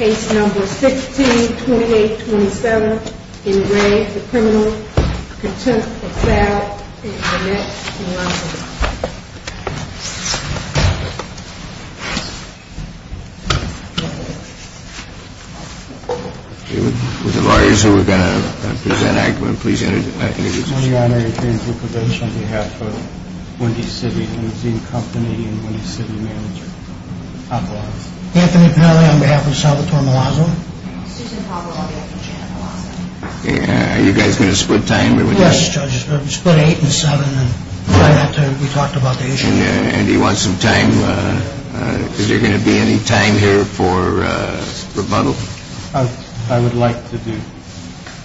With the lawyers who are going to present, I'm going to please introduce the witnesses. On behalf of Wendy's City Housing Company and Wendy's City Manager. Anthony Pelle on behalf of Salvatore Milazzo. Susan Pablo on behalf of Janet Milazzo. Are you guys going to split time? Yes, judges. We're going to split 8 and 7. We talked about the issue. And do you want some time? Is there going to be any time here for rebuttal? I would like to do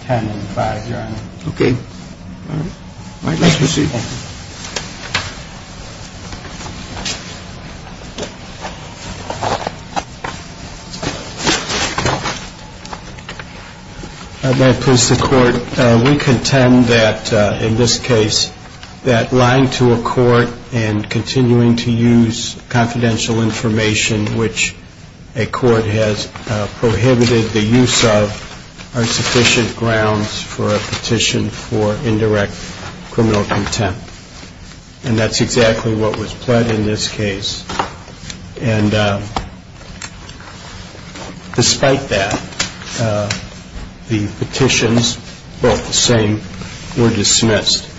10 and 5, your honor. Okay. All right. Let's proceed. May it please the court. We contend that in this case that lying to a court and continuing to use confidential information, which a court has prohibited the use of, are insufficient grounds for a petition for indirect criminal contempt. And that's exactly what was pled in this case. And despite that, the petitions, both the same, were dismissed.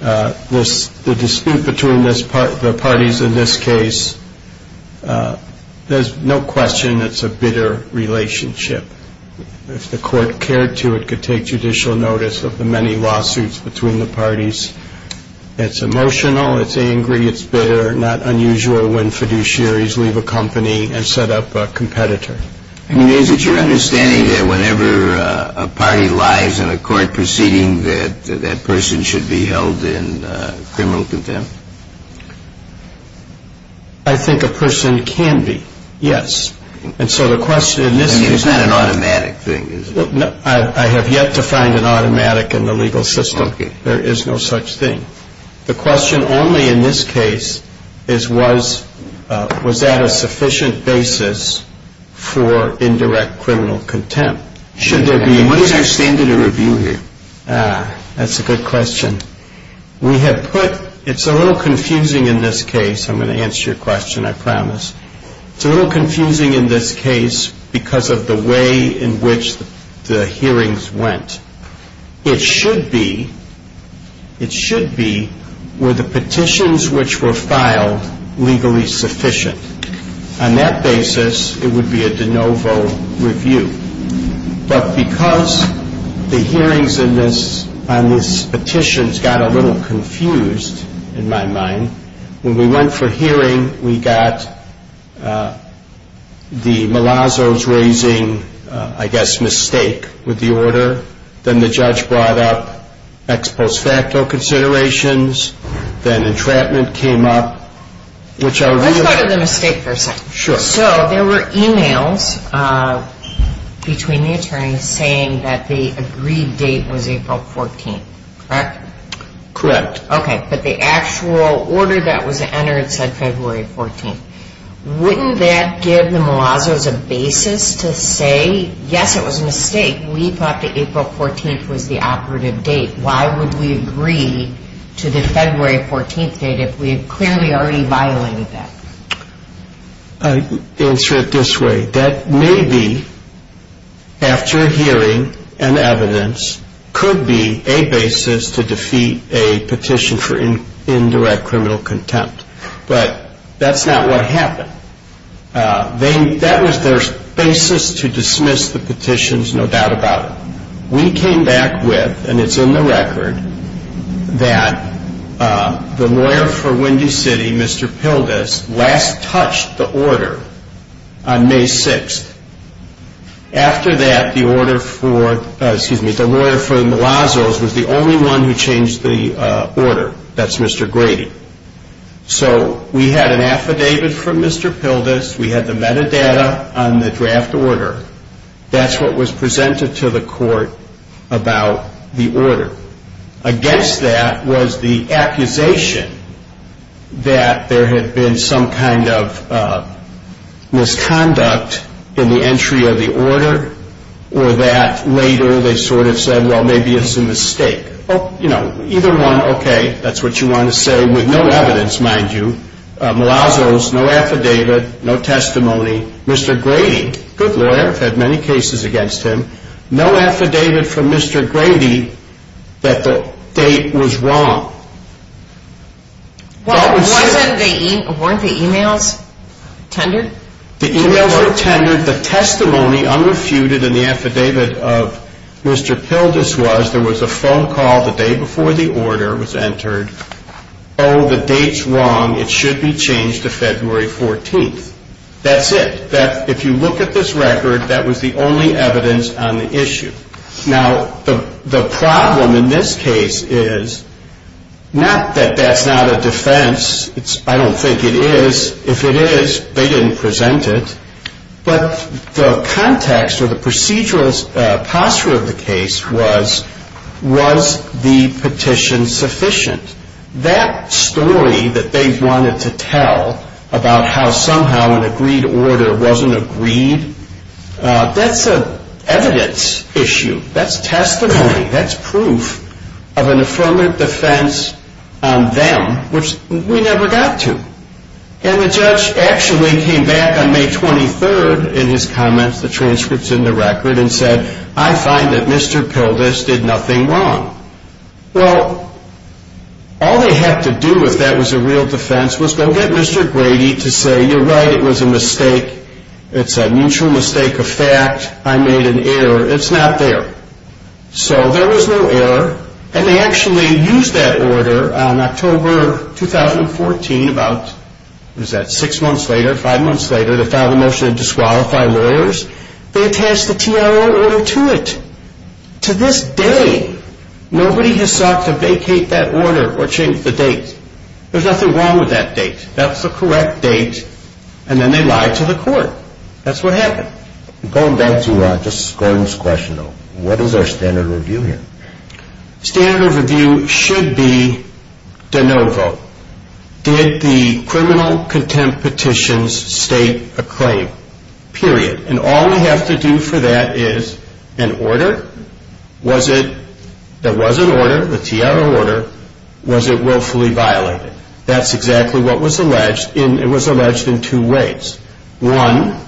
The dispute between the parties in this case, there's no question it's a bitter relationship. If the court cared to, it could take judicial notice of the many lawsuits between the parties. It's emotional. It's angry. It's bitter. Not unusual when fiduciaries leave a company and set up a competitor. I mean, is it your understanding that whenever a party lies in a court proceeding, that that person should be held in criminal contempt? I think a person can be, yes. I mean, it's not an automatic thing, is it? I have yet to find an automatic in the legal system. There is no such thing. The question only in this case is was that a sufficient basis for indirect criminal contempt? What is our standard of review here? That's a good question. We have put, it's a little confusing in this case. I'm going to answer your question, I promise. It's a little confusing in this case because of the way in which the hearings went. It should be, it should be, were the petitions which were filed legally sufficient? On that basis, it would be a de novo review. But because the hearings on these petitions got a little confused in my mind, when we went for hearing, we got the Malazzo's raising, I guess, mistake with the order. Then the judge brought up ex post facto considerations. Then entrapment came up, which I'll review. Let's go to the mistake for a second. Sure. So there were e-mails between the attorneys saying that the agreed date was April 14th, correct? Correct. Okay. But the actual order that was entered said February 14th. Wouldn't that give the Malazzo's a basis to say, yes, it was a mistake. We thought that April 14th was the operative date. Why would we agree to the February 14th date if we had clearly already violated that? I'll answer it this way. That may be, after hearing and evidence, could be a basis to defeat a petition for indirect criminal contempt. But that's not what happened. That was their basis to dismiss the petitions, no doubt about it. We came back with, and it's in the record, that the lawyer for Windy City, Mr. Pildes, last touched the order. On May 6th. After that, the lawyer for Malazzo's was the only one who changed the order. That's Mr. Grady. So we had an affidavit from Mr. Pildes. We had the metadata on the draft order. Against that was the accusation that there had been some kind of misconduct in the entry of the order, or that later they sort of said, well, maybe it's a mistake. Either one, okay, that's what you want to say, with no evidence, mind you. Malazzo's, no affidavit, no testimony. Mr. Grady, good lawyer, had many cases against him. No affidavit from Mr. Grady that the date was wrong. Weren't the e-mails tendered? The e-mails were tendered. The testimony unrefuted in the affidavit of Mr. Pildes was there was a phone call the day before the order was entered. Oh, the date's wrong. It should be changed to February 14th. That's it. If you look at this record, that was the only evidence on the issue. Now, the problem in this case is not that that's not a defense. I don't think it is. If it is, they didn't present it. But the context or the procedural posture of the case was, was the petition sufficient? That story that they wanted to tell about how somehow an agreed order wasn't agreed, that's an evidence issue. That's testimony. That's proof of an affirmative defense on them, which we never got to. And the judge actually came back on May 23rd in his comments, the transcripts in the record, and said, I find that Mr. Pildes did nothing wrong. Well, all they had to do if that was a real defense was go get Mr. Grady to say, you're right, it was a mistake. It's a mutual mistake of fact. I made an error. It's not there. So there was no error. And they actually used that order on October 2014, about, what is that, six months later, five months later, they filed a motion to disqualify lawyers. They attached a TRO order to it. To this day, nobody has sought to vacate that order or change the date. There's nothing wrong with that date. That's the correct date. And then they lied to the court. That's what happened. Going back to just Gordon's question, though, what is our standard of review here? Standard of review should be de novo. Did the criminal contempt petitions state a claim? Period. And all we have to do for that is an order. Was it, there was an order, the TRO order, was it willfully violated? That's exactly what was alleged. It was alleged in two ways. One,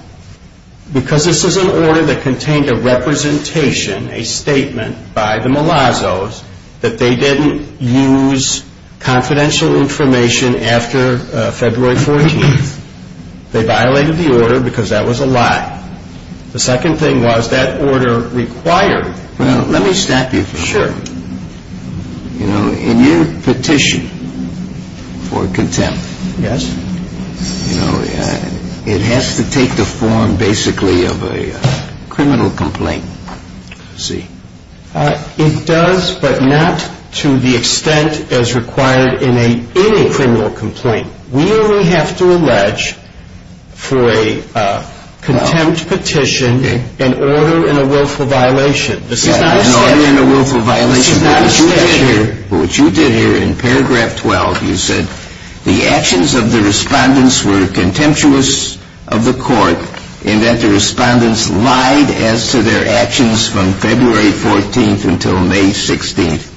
because this is an order that contained a representation, a statement by the Malazos, that they didn't use confidential information after February 14th, they violated the order because that was a lie. The second thing was that order required. Well, let me stop you for a moment. Sure. You know, in your petition for contempt. Yes. You know, it has to take the form, basically, of a criminal complaint. I see. It does, but not to the extent as required in any criminal complaint. We only have to allege for a contempt petition an order in a willful violation. An order in a willful violation. This is not a statute. What you did here in paragraph 12, you said, the actions of the respondents were contemptuous of the court in that the respondents lied as to their actions from February 14th until May 16th.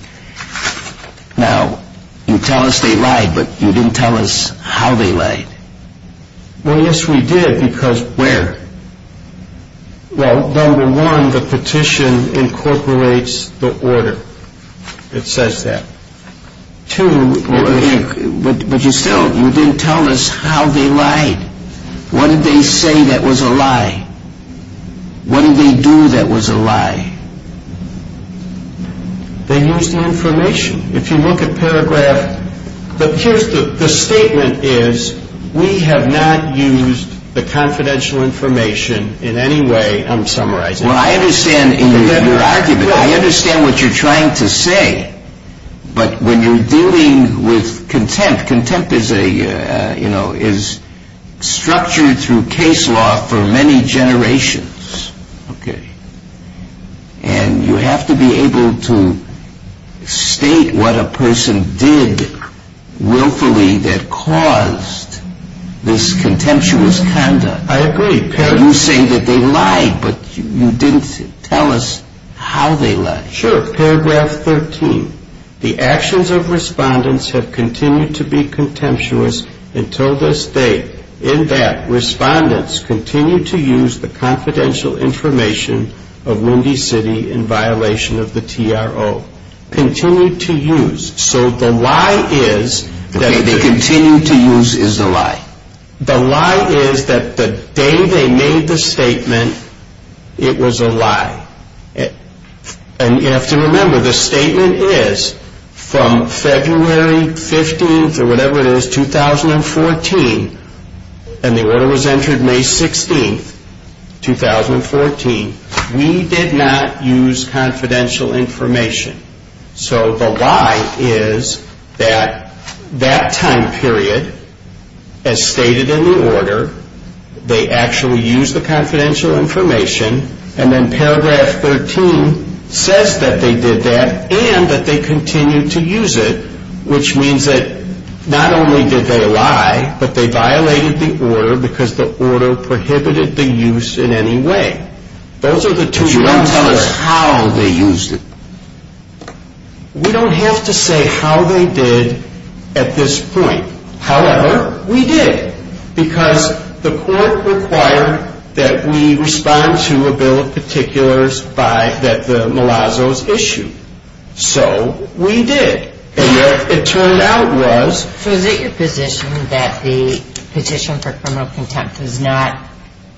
Now, you tell us they lied, but you didn't tell us how they lied. Well, yes, we did, because... Where? Well, number one, the petition incorporates the order. It says that. Two... But you still, you didn't tell us how they lied. What did they say that was a lie? What did they do that was a lie? They used the information. If you look at paragraph... Here's the statement is, we have not used the confidential information in any way, I'm summarizing. Well, I understand your argument. I understand what you're trying to say. But when you're dealing with contempt, contempt is structured through case law for many generations. Okay. And you have to be able to state what a person did willfully that caused this contemptuous conduct. I agree. You say that they lied, but you didn't tell us how they lied. Sure. Paragraph 13, the actions of respondents have continued to be contemptuous until this day in that respondents continued to use the confidential information of Windy City in violation of the TRO. Continued to use. So the lie is... Okay, they continued to use is a lie. The lie is that the day they made the statement, it was a lie. And you have to remember, the statement is from February 15th or whatever it is, 2014, and the order was entered May 16th, 2014, we did not use confidential information. So the lie is that that time period, as stated in the order, they actually used the confidential information, and then paragraph 13 says that they did that and that they continued to use it, which means that not only did they lie, but they violated the order because the order prohibited the use in any way. Those are the two... But you didn't tell us how they used it. We don't have to say how they did at this point. However, we did. Because the court required that we respond to a bill of particulars that the Malazzo's issued. So we did. And what it turned out was... So is it your position that the petition for criminal contempt is not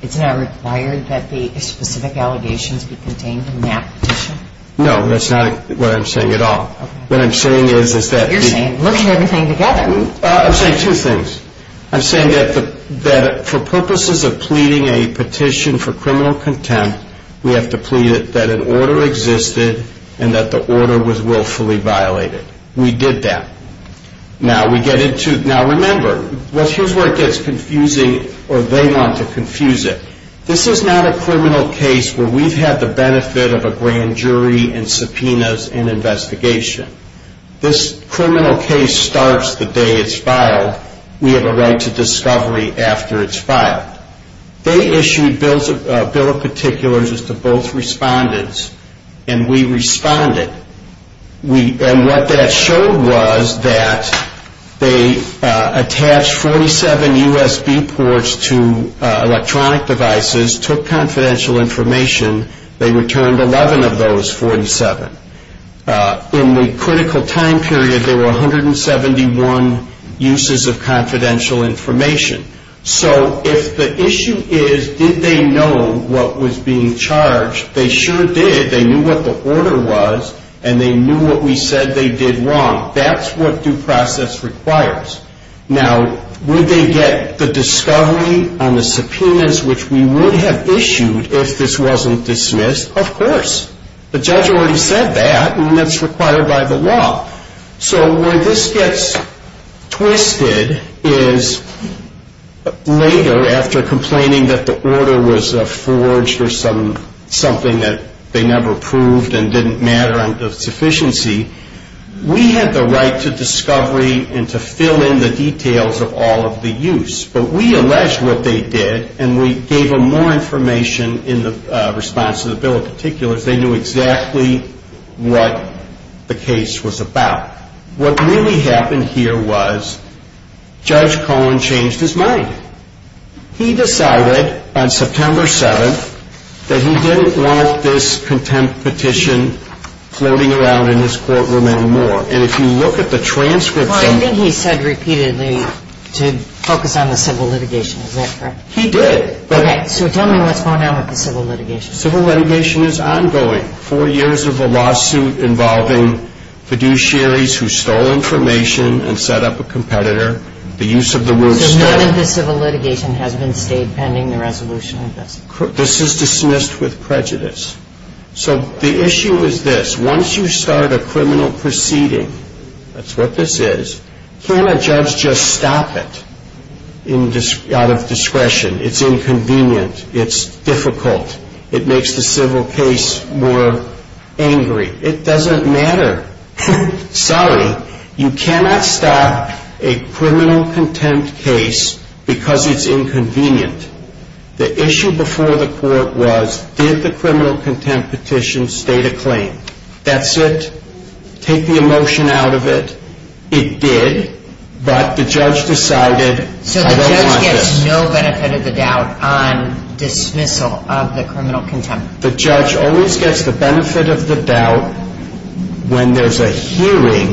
required that the specific allegations be contained in that petition? No, that's not what I'm saying at all. What I'm saying is that... You're saying, look at everything together. I'm saying two things. I'm saying that for purposes of pleading a petition for criminal contempt, we have to plead that an order existed and that the order was willfully violated. We did that. Now, we get into... Now, remember, here's where it gets confusing, or they want to confuse it. This is not a criminal case where we've had the benefit of a grand jury and subpoenas and investigation. This criminal case starts the day it's filed. We have a right to discovery after it's filed. They issued bills of particulars to both respondents, and we responded. And what that showed was that they attached 47 USB ports to electronic devices, took confidential information, they returned 11 of those 47. In the critical time period, there were 171 uses of confidential information. So if the issue is did they know what was being charged, they sure did. They knew what the order was, and they knew what we said they did wrong. That's what due process requires. Now, would they get the discovery on the subpoenas which we would have issued if this wasn't dismissed? Of course. The judge already said that, and that's required by the law. So where this gets twisted is later, after complaining that the order was forged or something that they never proved and didn't matter on sufficiency, we had the right to discovery and to fill in the details of all of the use. But we alleged what they did, and we gave them more information in response to the bill of particulars. They knew exactly what the case was about. What really happened here was Judge Cohen changed his mind. He decided on September 7th that he didn't want this contempt petition floating around in this courtroom anymore. And if you look at the transcripts of it. Well, I think he said repeatedly to focus on the civil litigation. Is that correct? He did. Okay. So tell me what's going on with the civil litigation. Civil litigation is ongoing. Four years of a lawsuit involving fiduciaries who stole information and set up a competitor. The use of the word stole. So none of the civil litigation has been stayed pending the resolution of this? This is dismissed with prejudice. So the issue is this. Once you start a criminal proceeding, that's what this is, can't a judge just stop it out of discretion? It's inconvenient. It's difficult. It makes the civil case more angry. It doesn't matter. Sorry, you cannot stop a criminal contempt case because it's inconvenient. The issue before the court was did the criminal contempt petition state a claim? That's it. Take the emotion out of it. It did. But the judge decided I don't want this. So the judge gets no benefit of the doubt on dismissal of the criminal contempt? The judge always gets the benefit of the doubt when there's a hearing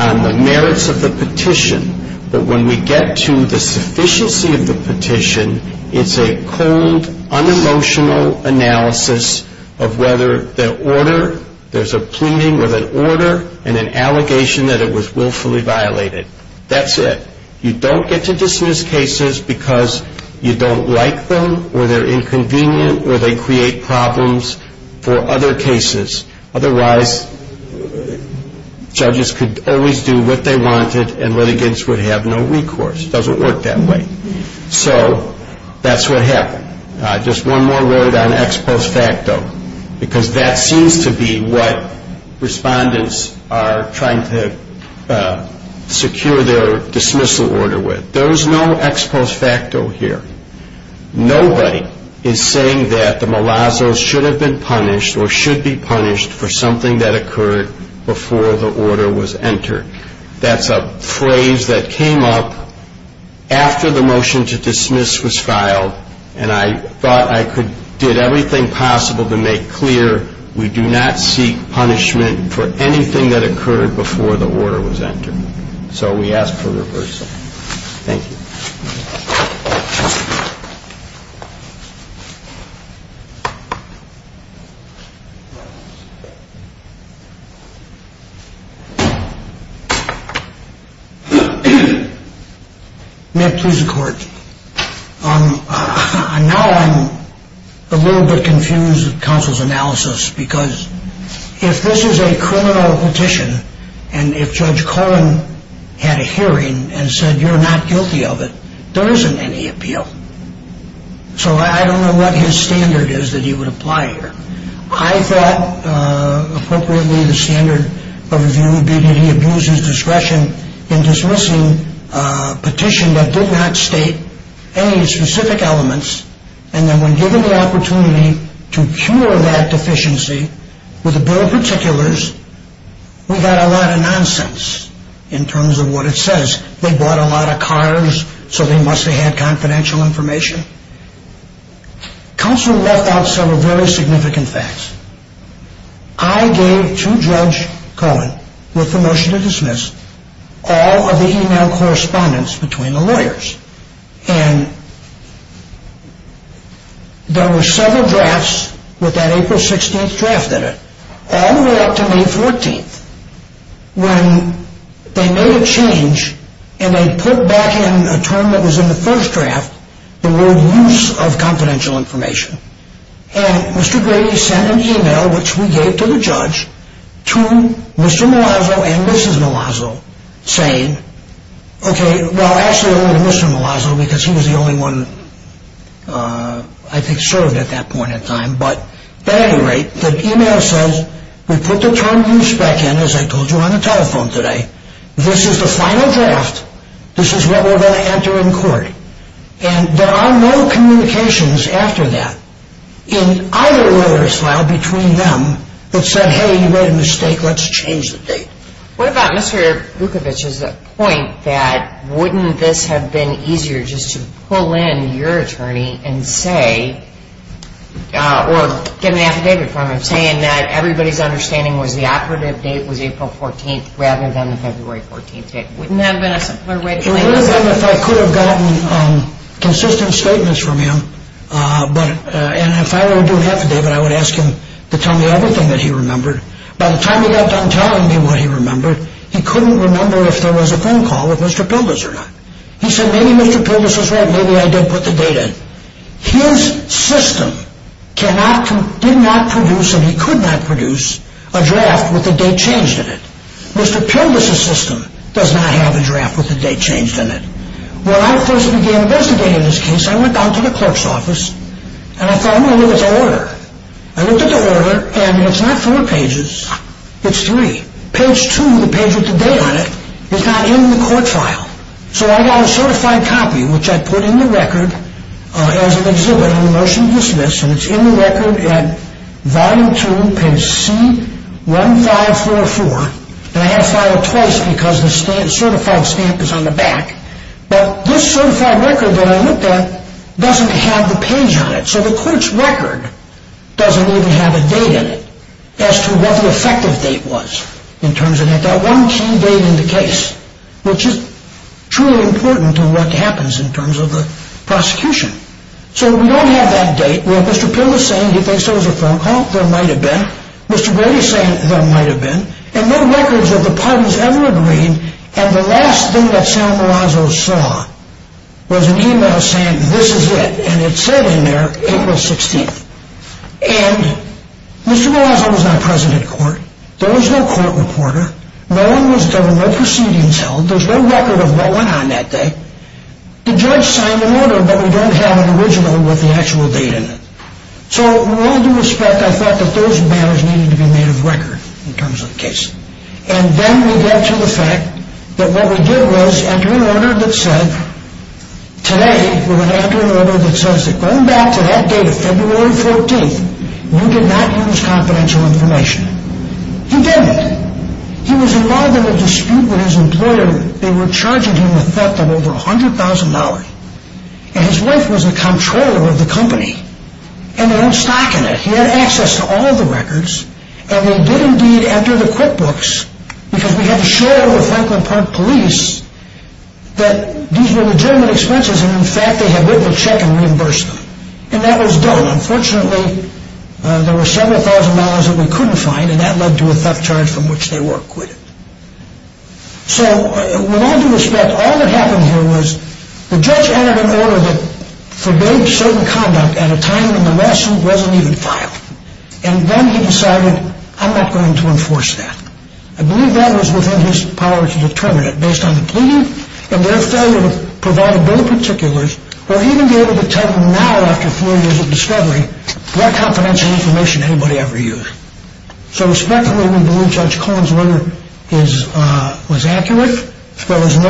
on the merits of the petition. But when we get to the sufficiency of the petition, it's a cold, unemotional analysis of whether the order, there's a pleading with an order and an allegation that it was willfully violated. That's it. You don't get to dismiss cases because you don't like them or they're inconvenient or they create problems for other cases. Otherwise, judges could always do what they wanted and litigants would have no recourse. It doesn't work that way. So that's what happened. Just one more word on ex post facto because that seems to be what respondents are trying to secure their dismissal order with. There's no ex post facto here. Nobody is saying that the malazzo should have been punished or should be punished for something that occurred before the order was entered. That's a phrase that came up after the motion to dismiss was filed, and I thought I did everything possible to make clear we do not seek punishment for anything that occurred before the order was entered. So we ask for reversal. Thank you. May it please the court. Now I'm a little bit confused with counsel's analysis because if this is a criminal petition and if Judge Cohen had a hearing and said you're not guilty of it, there isn't any appeal. So I don't know what his standard is that he would apply here. I thought appropriately the standard would be that he abused his discretion in dismissing a petition that did not state any specific elements and then when given the opportunity to cure that deficiency with a bill of particulars, we got a lot of nonsense in terms of what it says. They bought a lot of cars so they must have had confidential information. Counsel left out several very significant facts. I gave to Judge Cohen with the motion to dismiss all of the email correspondence between the lawyers and there were several drafts with that April 16th draft in it all the way up to May 14th when they made a change and they put back in a term that was in the first draft the word use of confidential information and Mr. Grady sent an email which we gave to the judge to Mr. Malazzo and Mrs. Malazzo saying, okay well actually only to Mr. Malazzo because he was the only one I think served at that point in time but at any rate the email says we put the term use back in as I told you on the telephone today, this is the final draft, this is what we're going to enter in court and there are no communications after that in either lawyer's file between them that said hey you made a mistake, let's change the date. What about Mr. Bukovic's point that wouldn't this have been easier just to pull in your attorney and say or get an affidavit from him saying that everybody's understanding was the operative date was April 14th rather than the February 14th date? Wouldn't that have been a simpler way to explain this? It would have been if I could have gotten consistent statements from him and if I were to do an affidavit I would ask him to tell me everything that he remembered. By the time he got done telling me what he remembered he couldn't remember if there was a phone call with Mr. Pildes or not. He said maybe Mr. Pildes was right, maybe I did put the date in. His system did not produce and he could not produce a draft with the date changed in it. Mr. Pildes' system does not have a draft with the date changed in it. When I first began investigating this case I went down to the clerk's office and I thought I'm going to look at the order. I looked at the order and it's not four pages, it's three. Page two, the page with the date on it, is not in the court file. So I got a certified copy which I put in the record as an exhibit on the motion to dismiss and it's in the record at volume two, page C1544. And I had to file it twice because the certified stamp is on the back. But this certified record that I looked at doesn't have the page on it. So the court's record doesn't even have a date in it as to what the effective date was in terms of that one key date in the case which is truly important to what happens in terms of the prosecution. So we don't have that date where Mr. Pildes is saying he thinks there was a phone call, there might have been. Mr. Brady is saying there might have been. And no records of the parties ever agreeing. And the last thing that Sam Malazzo saw was an email saying this is it. And it said in there April 16th. And Mr. Malazzo was not present at court. There was no court reporter. No one was there. No proceedings held. There's no record of what went on that day. The judge signed an order but we don't have an original with the actual date in it. So with all due respect, I thought that those matters needed to be made of record in terms of the case. And then we get to the fact that what we did was enter an order that said, today we're going to enter an order that says that going back to that date of February 14th, you did not use confidential information. He didn't. He was involved in a dispute with his employer. They were charging him a theft of over $100,000. And his wife was the comptroller of the company. And they had stock in it. He had access to all the records. And they did indeed enter the QuickBooks because we had assured the Franklin Park police that these were legitimate expenses and in fact they had written a check and reimbursed them. And that was done. Unfortunately, there were several thousand dollars that we couldn't find and that led to a theft charge from which they were acquitted. So with all due respect, all that happened here was the judge entered an order that forbade certain conduct at a time when the lawsuit wasn't even filed. And then he decided, I'm not going to enforce that. I believe that was within his power to determine it based on the plea and their failure to provide a bill of particulars or even be able to tell him now after four years of discovery what confidential information anybody ever used. So respectfully, we believe Judge Cohen's order was accurate. And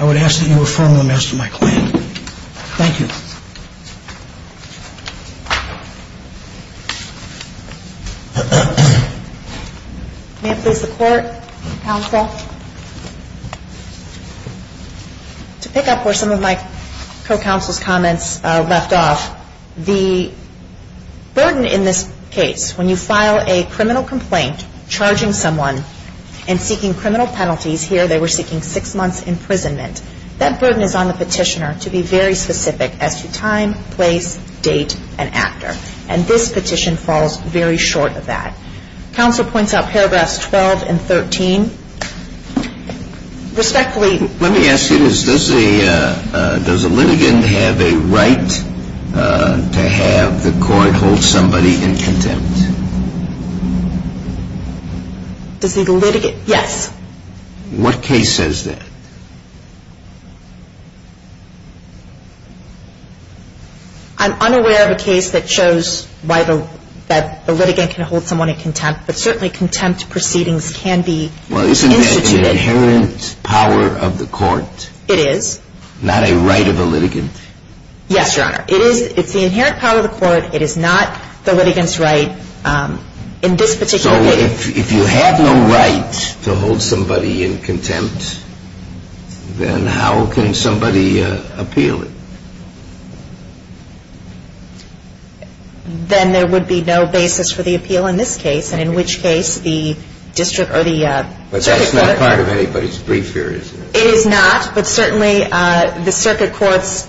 I would ask that you affirm the merits of my claim. Thank you. May it please the court, counsel. I do. I do. I do. I do. I do. I do. I do. I do. I do. I do. I do. I do. I do. To pick up where some of my co-counsel's comments left off, the burden in this case when you file a criminal complaint charging someone and seeking criminal penalties. Here they were seeking six months imprisonment. That burden is on the petitioner to be very specific as to time, place, date and actor. And this petition falls very short of that. Counsel points out paragraphs 12 and 13. Respectfully, let me ask you this. Does the litigant have a right to have the court hold somebody in contempt? Does the litigant? Yes. What case says that? I'm unaware of a case that shows that the litigant can hold someone in contempt, but certainly contempt proceedings can be instituted. Well, isn't that an inherent power of the court? It is. Not a right of the litigant? Yes, Your Honor. It is. It's the inherent power of the court. It is not the litigant's right in this particular case. If you have no right to hold somebody in contempt, then how can somebody appeal it? Then there would be no basis for the appeal in this case, and in which case the district or the circuit court That's not part of anybody's brief here, is it? It is not, but certainly the circuit court's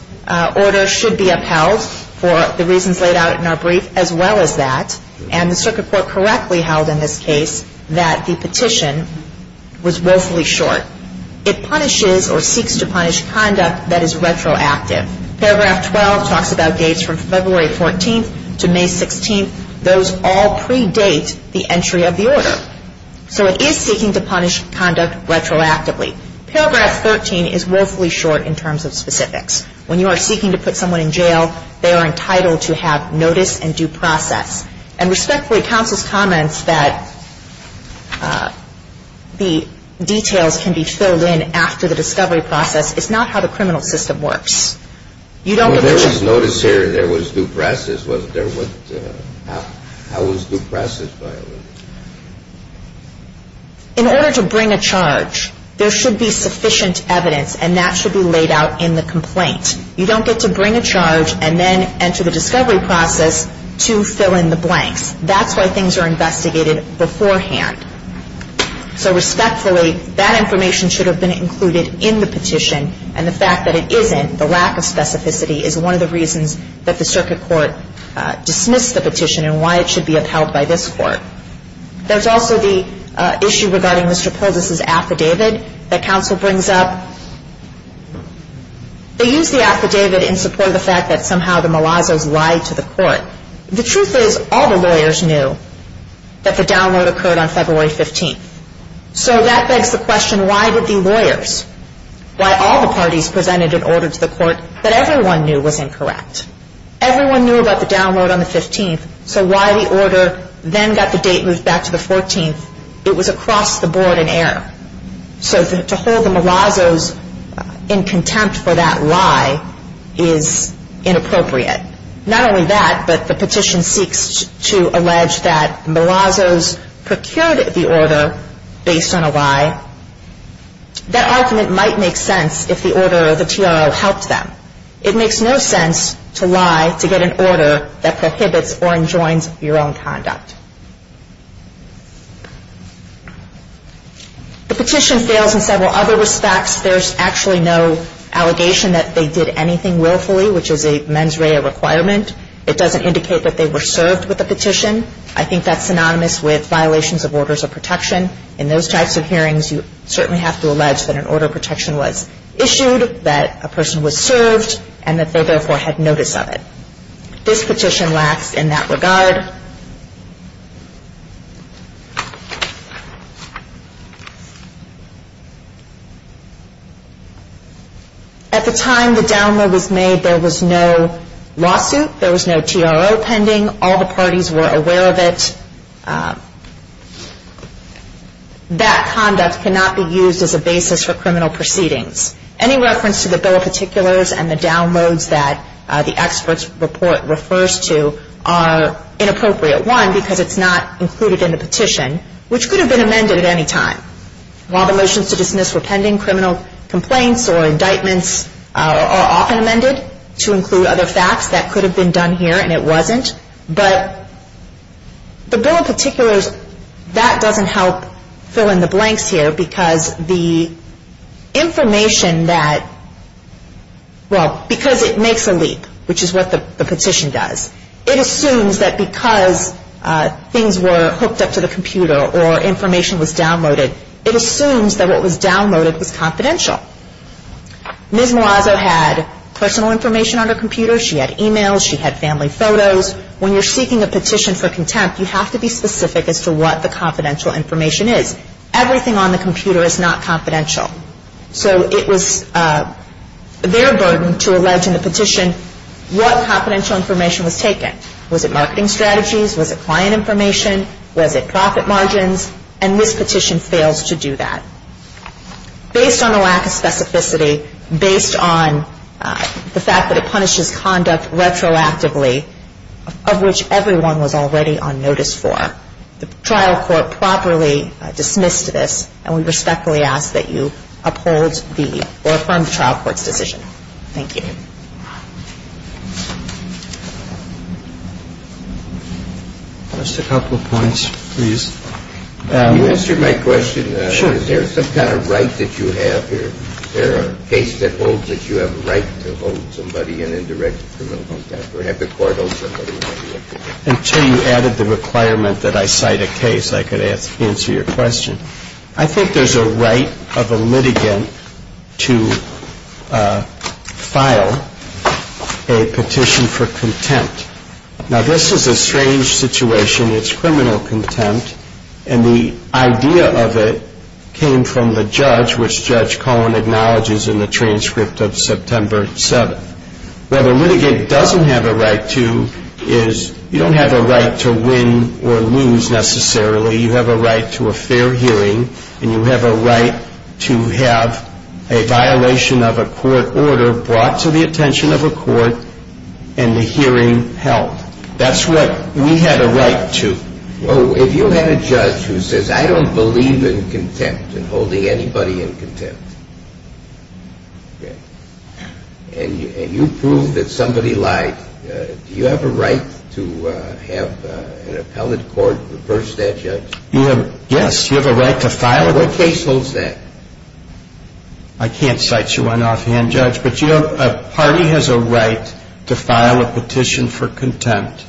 order should be upheld for the reasons laid out in our brief as well as that. And the circuit court correctly held in this case that the petition was woefully short. It punishes or seeks to punish conduct that is retroactive. Paragraph 12 talks about dates from February 14th to May 16th. Those all predate the entry of the order. So it is seeking to punish conduct retroactively. Paragraph 13 is woefully short in terms of specifics. When you are seeking to put someone in jail, they are entitled to have notice and due process. And respectfully, counsel's comments that the details can be filled in after the discovery process is not how the criminal system works. You don't get to When there was notice here and there was due process, how was due process violated? In order to bring a charge, there should be sufficient evidence, and that should be laid out in the complaint. You don't get to bring a charge and then enter the discovery process to fill in the blanks. That's why things are investigated beforehand. So respectfully, that information should have been included in the petition. And the fact that it isn't, the lack of specificity, is one of the reasons that the circuit court dismissed the petition and why it should be upheld by this court. There's also the issue regarding Mr. Poldis' affidavit that counsel brings up. They use the affidavit in support of the fact that somehow the Malazos lied to the court. The truth is, all the lawyers knew that the download occurred on February 15th. So that begs the question, why did the lawyers, why all the parties presented an order to the court that everyone knew was incorrect? Everyone knew about the download on the 15th, so why the order then got the date moved back to the 14th? It was across the board in error. So to hold the Malazos in contempt for that lie is inappropriate. Not only that, but the petition seeks to allege that Malazos procured the order based on a lie. That argument might make sense if the order, the TRO, helped them. It makes no sense to lie to get an order that prohibits or enjoins your own conduct. The petition fails in several other respects. There's actually no allegation that they did anything willfully, which is a mens rea requirement. It doesn't indicate that they were served with the petition. I think that's synonymous with violations of orders of protection. In those types of hearings, you certainly have to allege that an order of protection was issued, that a person was served, and that they, therefore, had notice of it. This petition lacks in that regard. At the time the download was made, there was no lawsuit. There was no TRO pending. All the parties were aware of it. That conduct cannot be used as a basis for criminal proceedings. Any reference to the bill of particulars and the downloads that the expert's report refers to are inappropriate. One, because it's not included in the petition, which could have been amended at any time. While the motions to dismiss were pending, criminal complaints or indictments are often amended to include other facts. That could have been done here, and it wasn't. But the bill of particulars, that doesn't help fill in the blanks here, because the information that, well, because it makes a leap, which is what the petition does, it assumes that because things were hooked up to the computer or information was downloaded, it assumes that what was downloaded was confidential. Ms. Malazzo had personal information on her computer. She had e-mails. She had family photos. When you're seeking a petition for contempt, you have to be specific as to what the confidential information is. Everything on the computer is not confidential. So it was their burden to allege in the petition what confidential information was taken. Was it marketing strategies? Was it client information? Was it profit margins? And this petition fails to do that. Based on the lack of specificity, based on the fact that it punishes conduct retroactively, of which everyone was already on notice for, the trial court properly dismissed this, and we respectfully ask that you uphold the or affirm the trial court's decision. Thank you. Just a couple of points, please. You answered my question. Sure. Is there some kind of right that you have here? Is there a case that holds that you have a right to hold somebody in indirect criminal contempt or have the court hold somebody in indirect contempt? Until you added the requirement that I cite a case, I could answer your question. I think there's a right of a litigant to file a petition for contempt. Now, this is a strange situation. It's criminal contempt, and the idea of it came from the judge, which Judge Cohen acknowledges in the transcript of September 7th. What a litigant doesn't have a right to is you don't have a right to win or lose, necessarily. You have a right to a fair hearing, and you have a right to have a violation of a court order brought to the attention of a court and the hearing held. That's what we have a right to. Well, if you have a judge who says, I don't believe in contempt and holding anybody in contempt, and you prove that somebody lied, do you have a right to have an appellate court reverse that, Judge? Yes, you have a right to file a petition. What case holds that? I can't cite you on offhand, Judge, but a party has a right to file a petition for contempt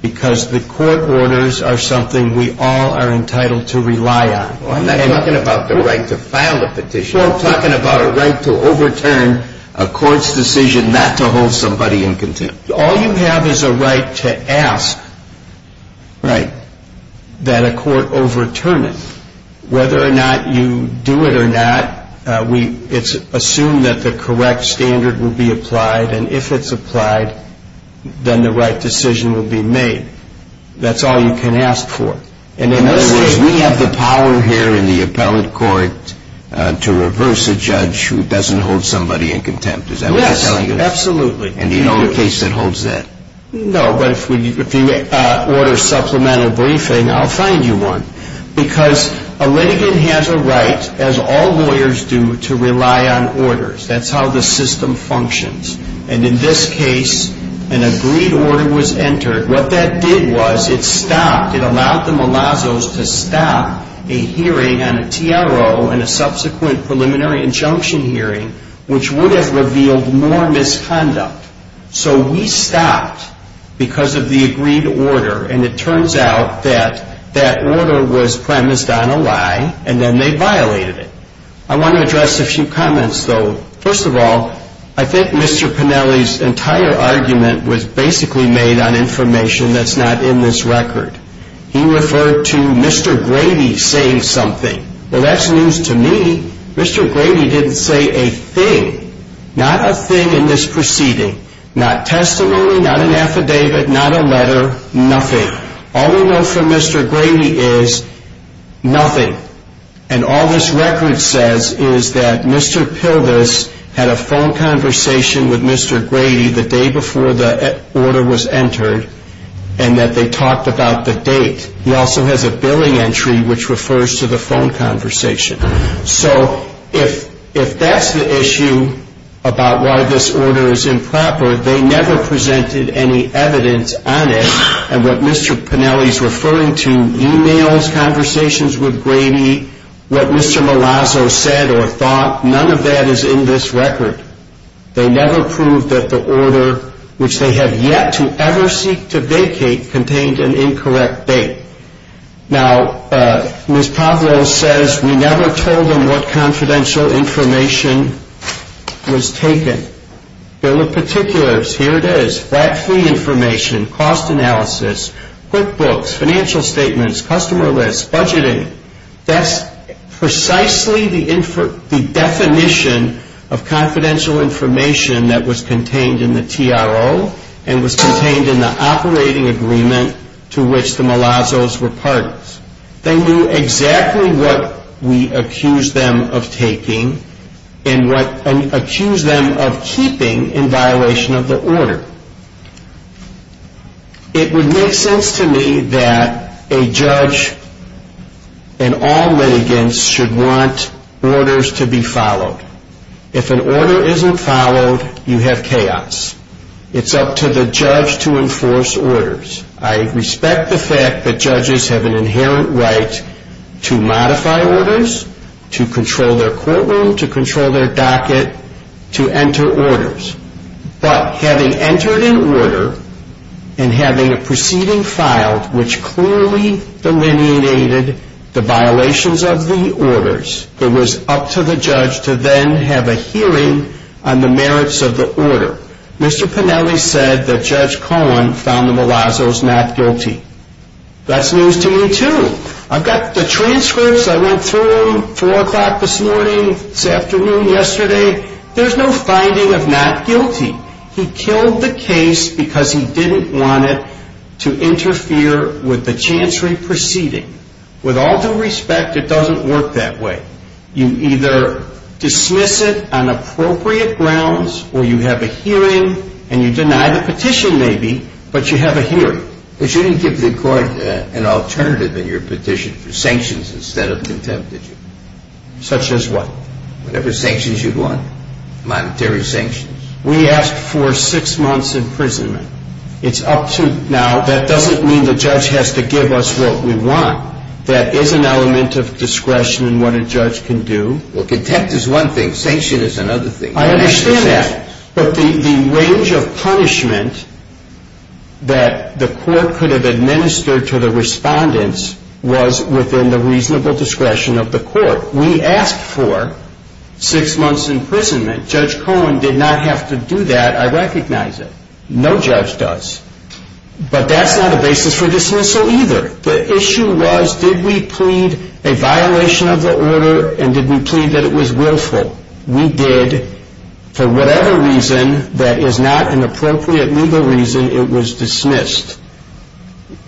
because the court orders are something we all are entitled to rely on. I'm not talking about the right to file a petition. We're talking about a right to overturn a court's decision not to hold somebody in contempt. All you have is a right to ask that a court overturn it. Whether or not you do it or not, it's assumed that the correct standard will be applied, and if it's applied, then the right decision will be made. That's all you can ask for. In other words, we have the power here in the appellate court to reverse a judge who doesn't hold somebody in contempt. Is that what you're telling us? Yes, absolutely. And you know the case that holds that? No, but if you order a supplemental briefing, I'll find you one. Because a litigant has a right, as all lawyers do, to rely on orders. That's how the system functions. And in this case, an agreed order was entered. What that did was it stopped. It allowed the Malazos to stop a hearing on a TRO and a subsequent preliminary injunction hearing, which would have revealed more misconduct. So we stopped because of the agreed order, and it turns out that that order was premised on a lie, and then they violated it. I want to address a few comments, though. First of all, I think Mr. Pennelly's entire argument was basically made on information that's not in this record. He referred to Mr. Grady saying something. Well, that's news to me. Mr. Grady didn't say a thing. Not a thing in this proceeding. Not testimony, not an affidavit, not a letter, nothing. All we know from Mr. Grady is nothing. And all this record says is that Mr. Pildes had a phone conversation with Mr. Grady the day before the order was entered and that they talked about the date. He also has a billing entry which refers to the phone conversation. So if that's the issue about why this order is improper, they never presented any evidence on it. And what Mr. Pennelly's referring to, e-mails, conversations with Grady, what Mr. Malazzo said or thought, none of that is in this record. They never proved that the order, which they have yet to ever seek to vacate, contained an incorrect date. Now, Ms. Pablo says we never told them what confidential information was taken. Bill of Particulars, here it is. Flat fee information, cost analysis, quick books, financial statements, customer lists, budgeting. That's precisely the definition of confidential information that was contained in the TRO and was contained in the operating agreement to which the Malazzos were partners. They knew exactly what we accused them of taking and accused them of keeping in violation of the order. It would make sense to me that a judge and all litigants should want orders to be followed. If an order isn't followed, you have chaos. It's up to the judge to enforce orders. I respect the fact that judges have an inherent right to modify orders, to control their courtroom, to control their docket, to enter orders. But having entered an order and having a proceeding filed which clearly delineated the violations of the orders, it was up to the judge to then have a hearing on the merits of the order. Mr. Pennelly said that Judge Cohen found the Malazzos not guilty. That's news to me too. I've got the transcripts I went through, 4 o'clock this morning, this afternoon, yesterday. There's no finding of not guilty. He killed the case because he didn't want it to interfere with the chancery proceeding. With all due respect, it doesn't work that way. You either dismiss it on appropriate grounds or you have a hearing and you deny the petition maybe, but you have a hearing. But you didn't give the court an alternative in your petition for sanctions instead of contempt, did you? Such as what? Whatever sanctions you'd want, monetary sanctions. We asked for six months' imprisonment. It's up to now. That doesn't mean the judge has to give us what we want. That is an element of discretion in what a judge can do. Well, contempt is one thing. Sanction is another thing. I understand that. But the range of punishment that the court could have administered to the respondents was within the reasonable discretion of the court. We asked for six months' imprisonment. Judge Cohen did not have to do that. I recognize it. No judge does. But that's not a basis for dismissal either. The issue was did we plead a violation of the order and did we plead that it was willful? We did. For whatever reason that is not an appropriate legal reason, it was dismissed.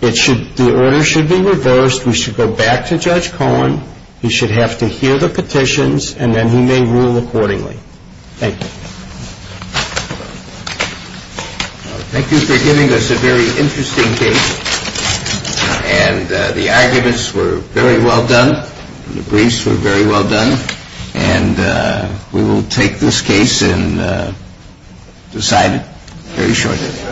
The order should be reversed. We should go back to Judge Cohen. He should have to hear the petitions, and then he may rule accordingly. Thank you. Thank you for giving us a very interesting case. And the arguments were very well done. The briefs were very well done. And we will take this case and decide it very shortly.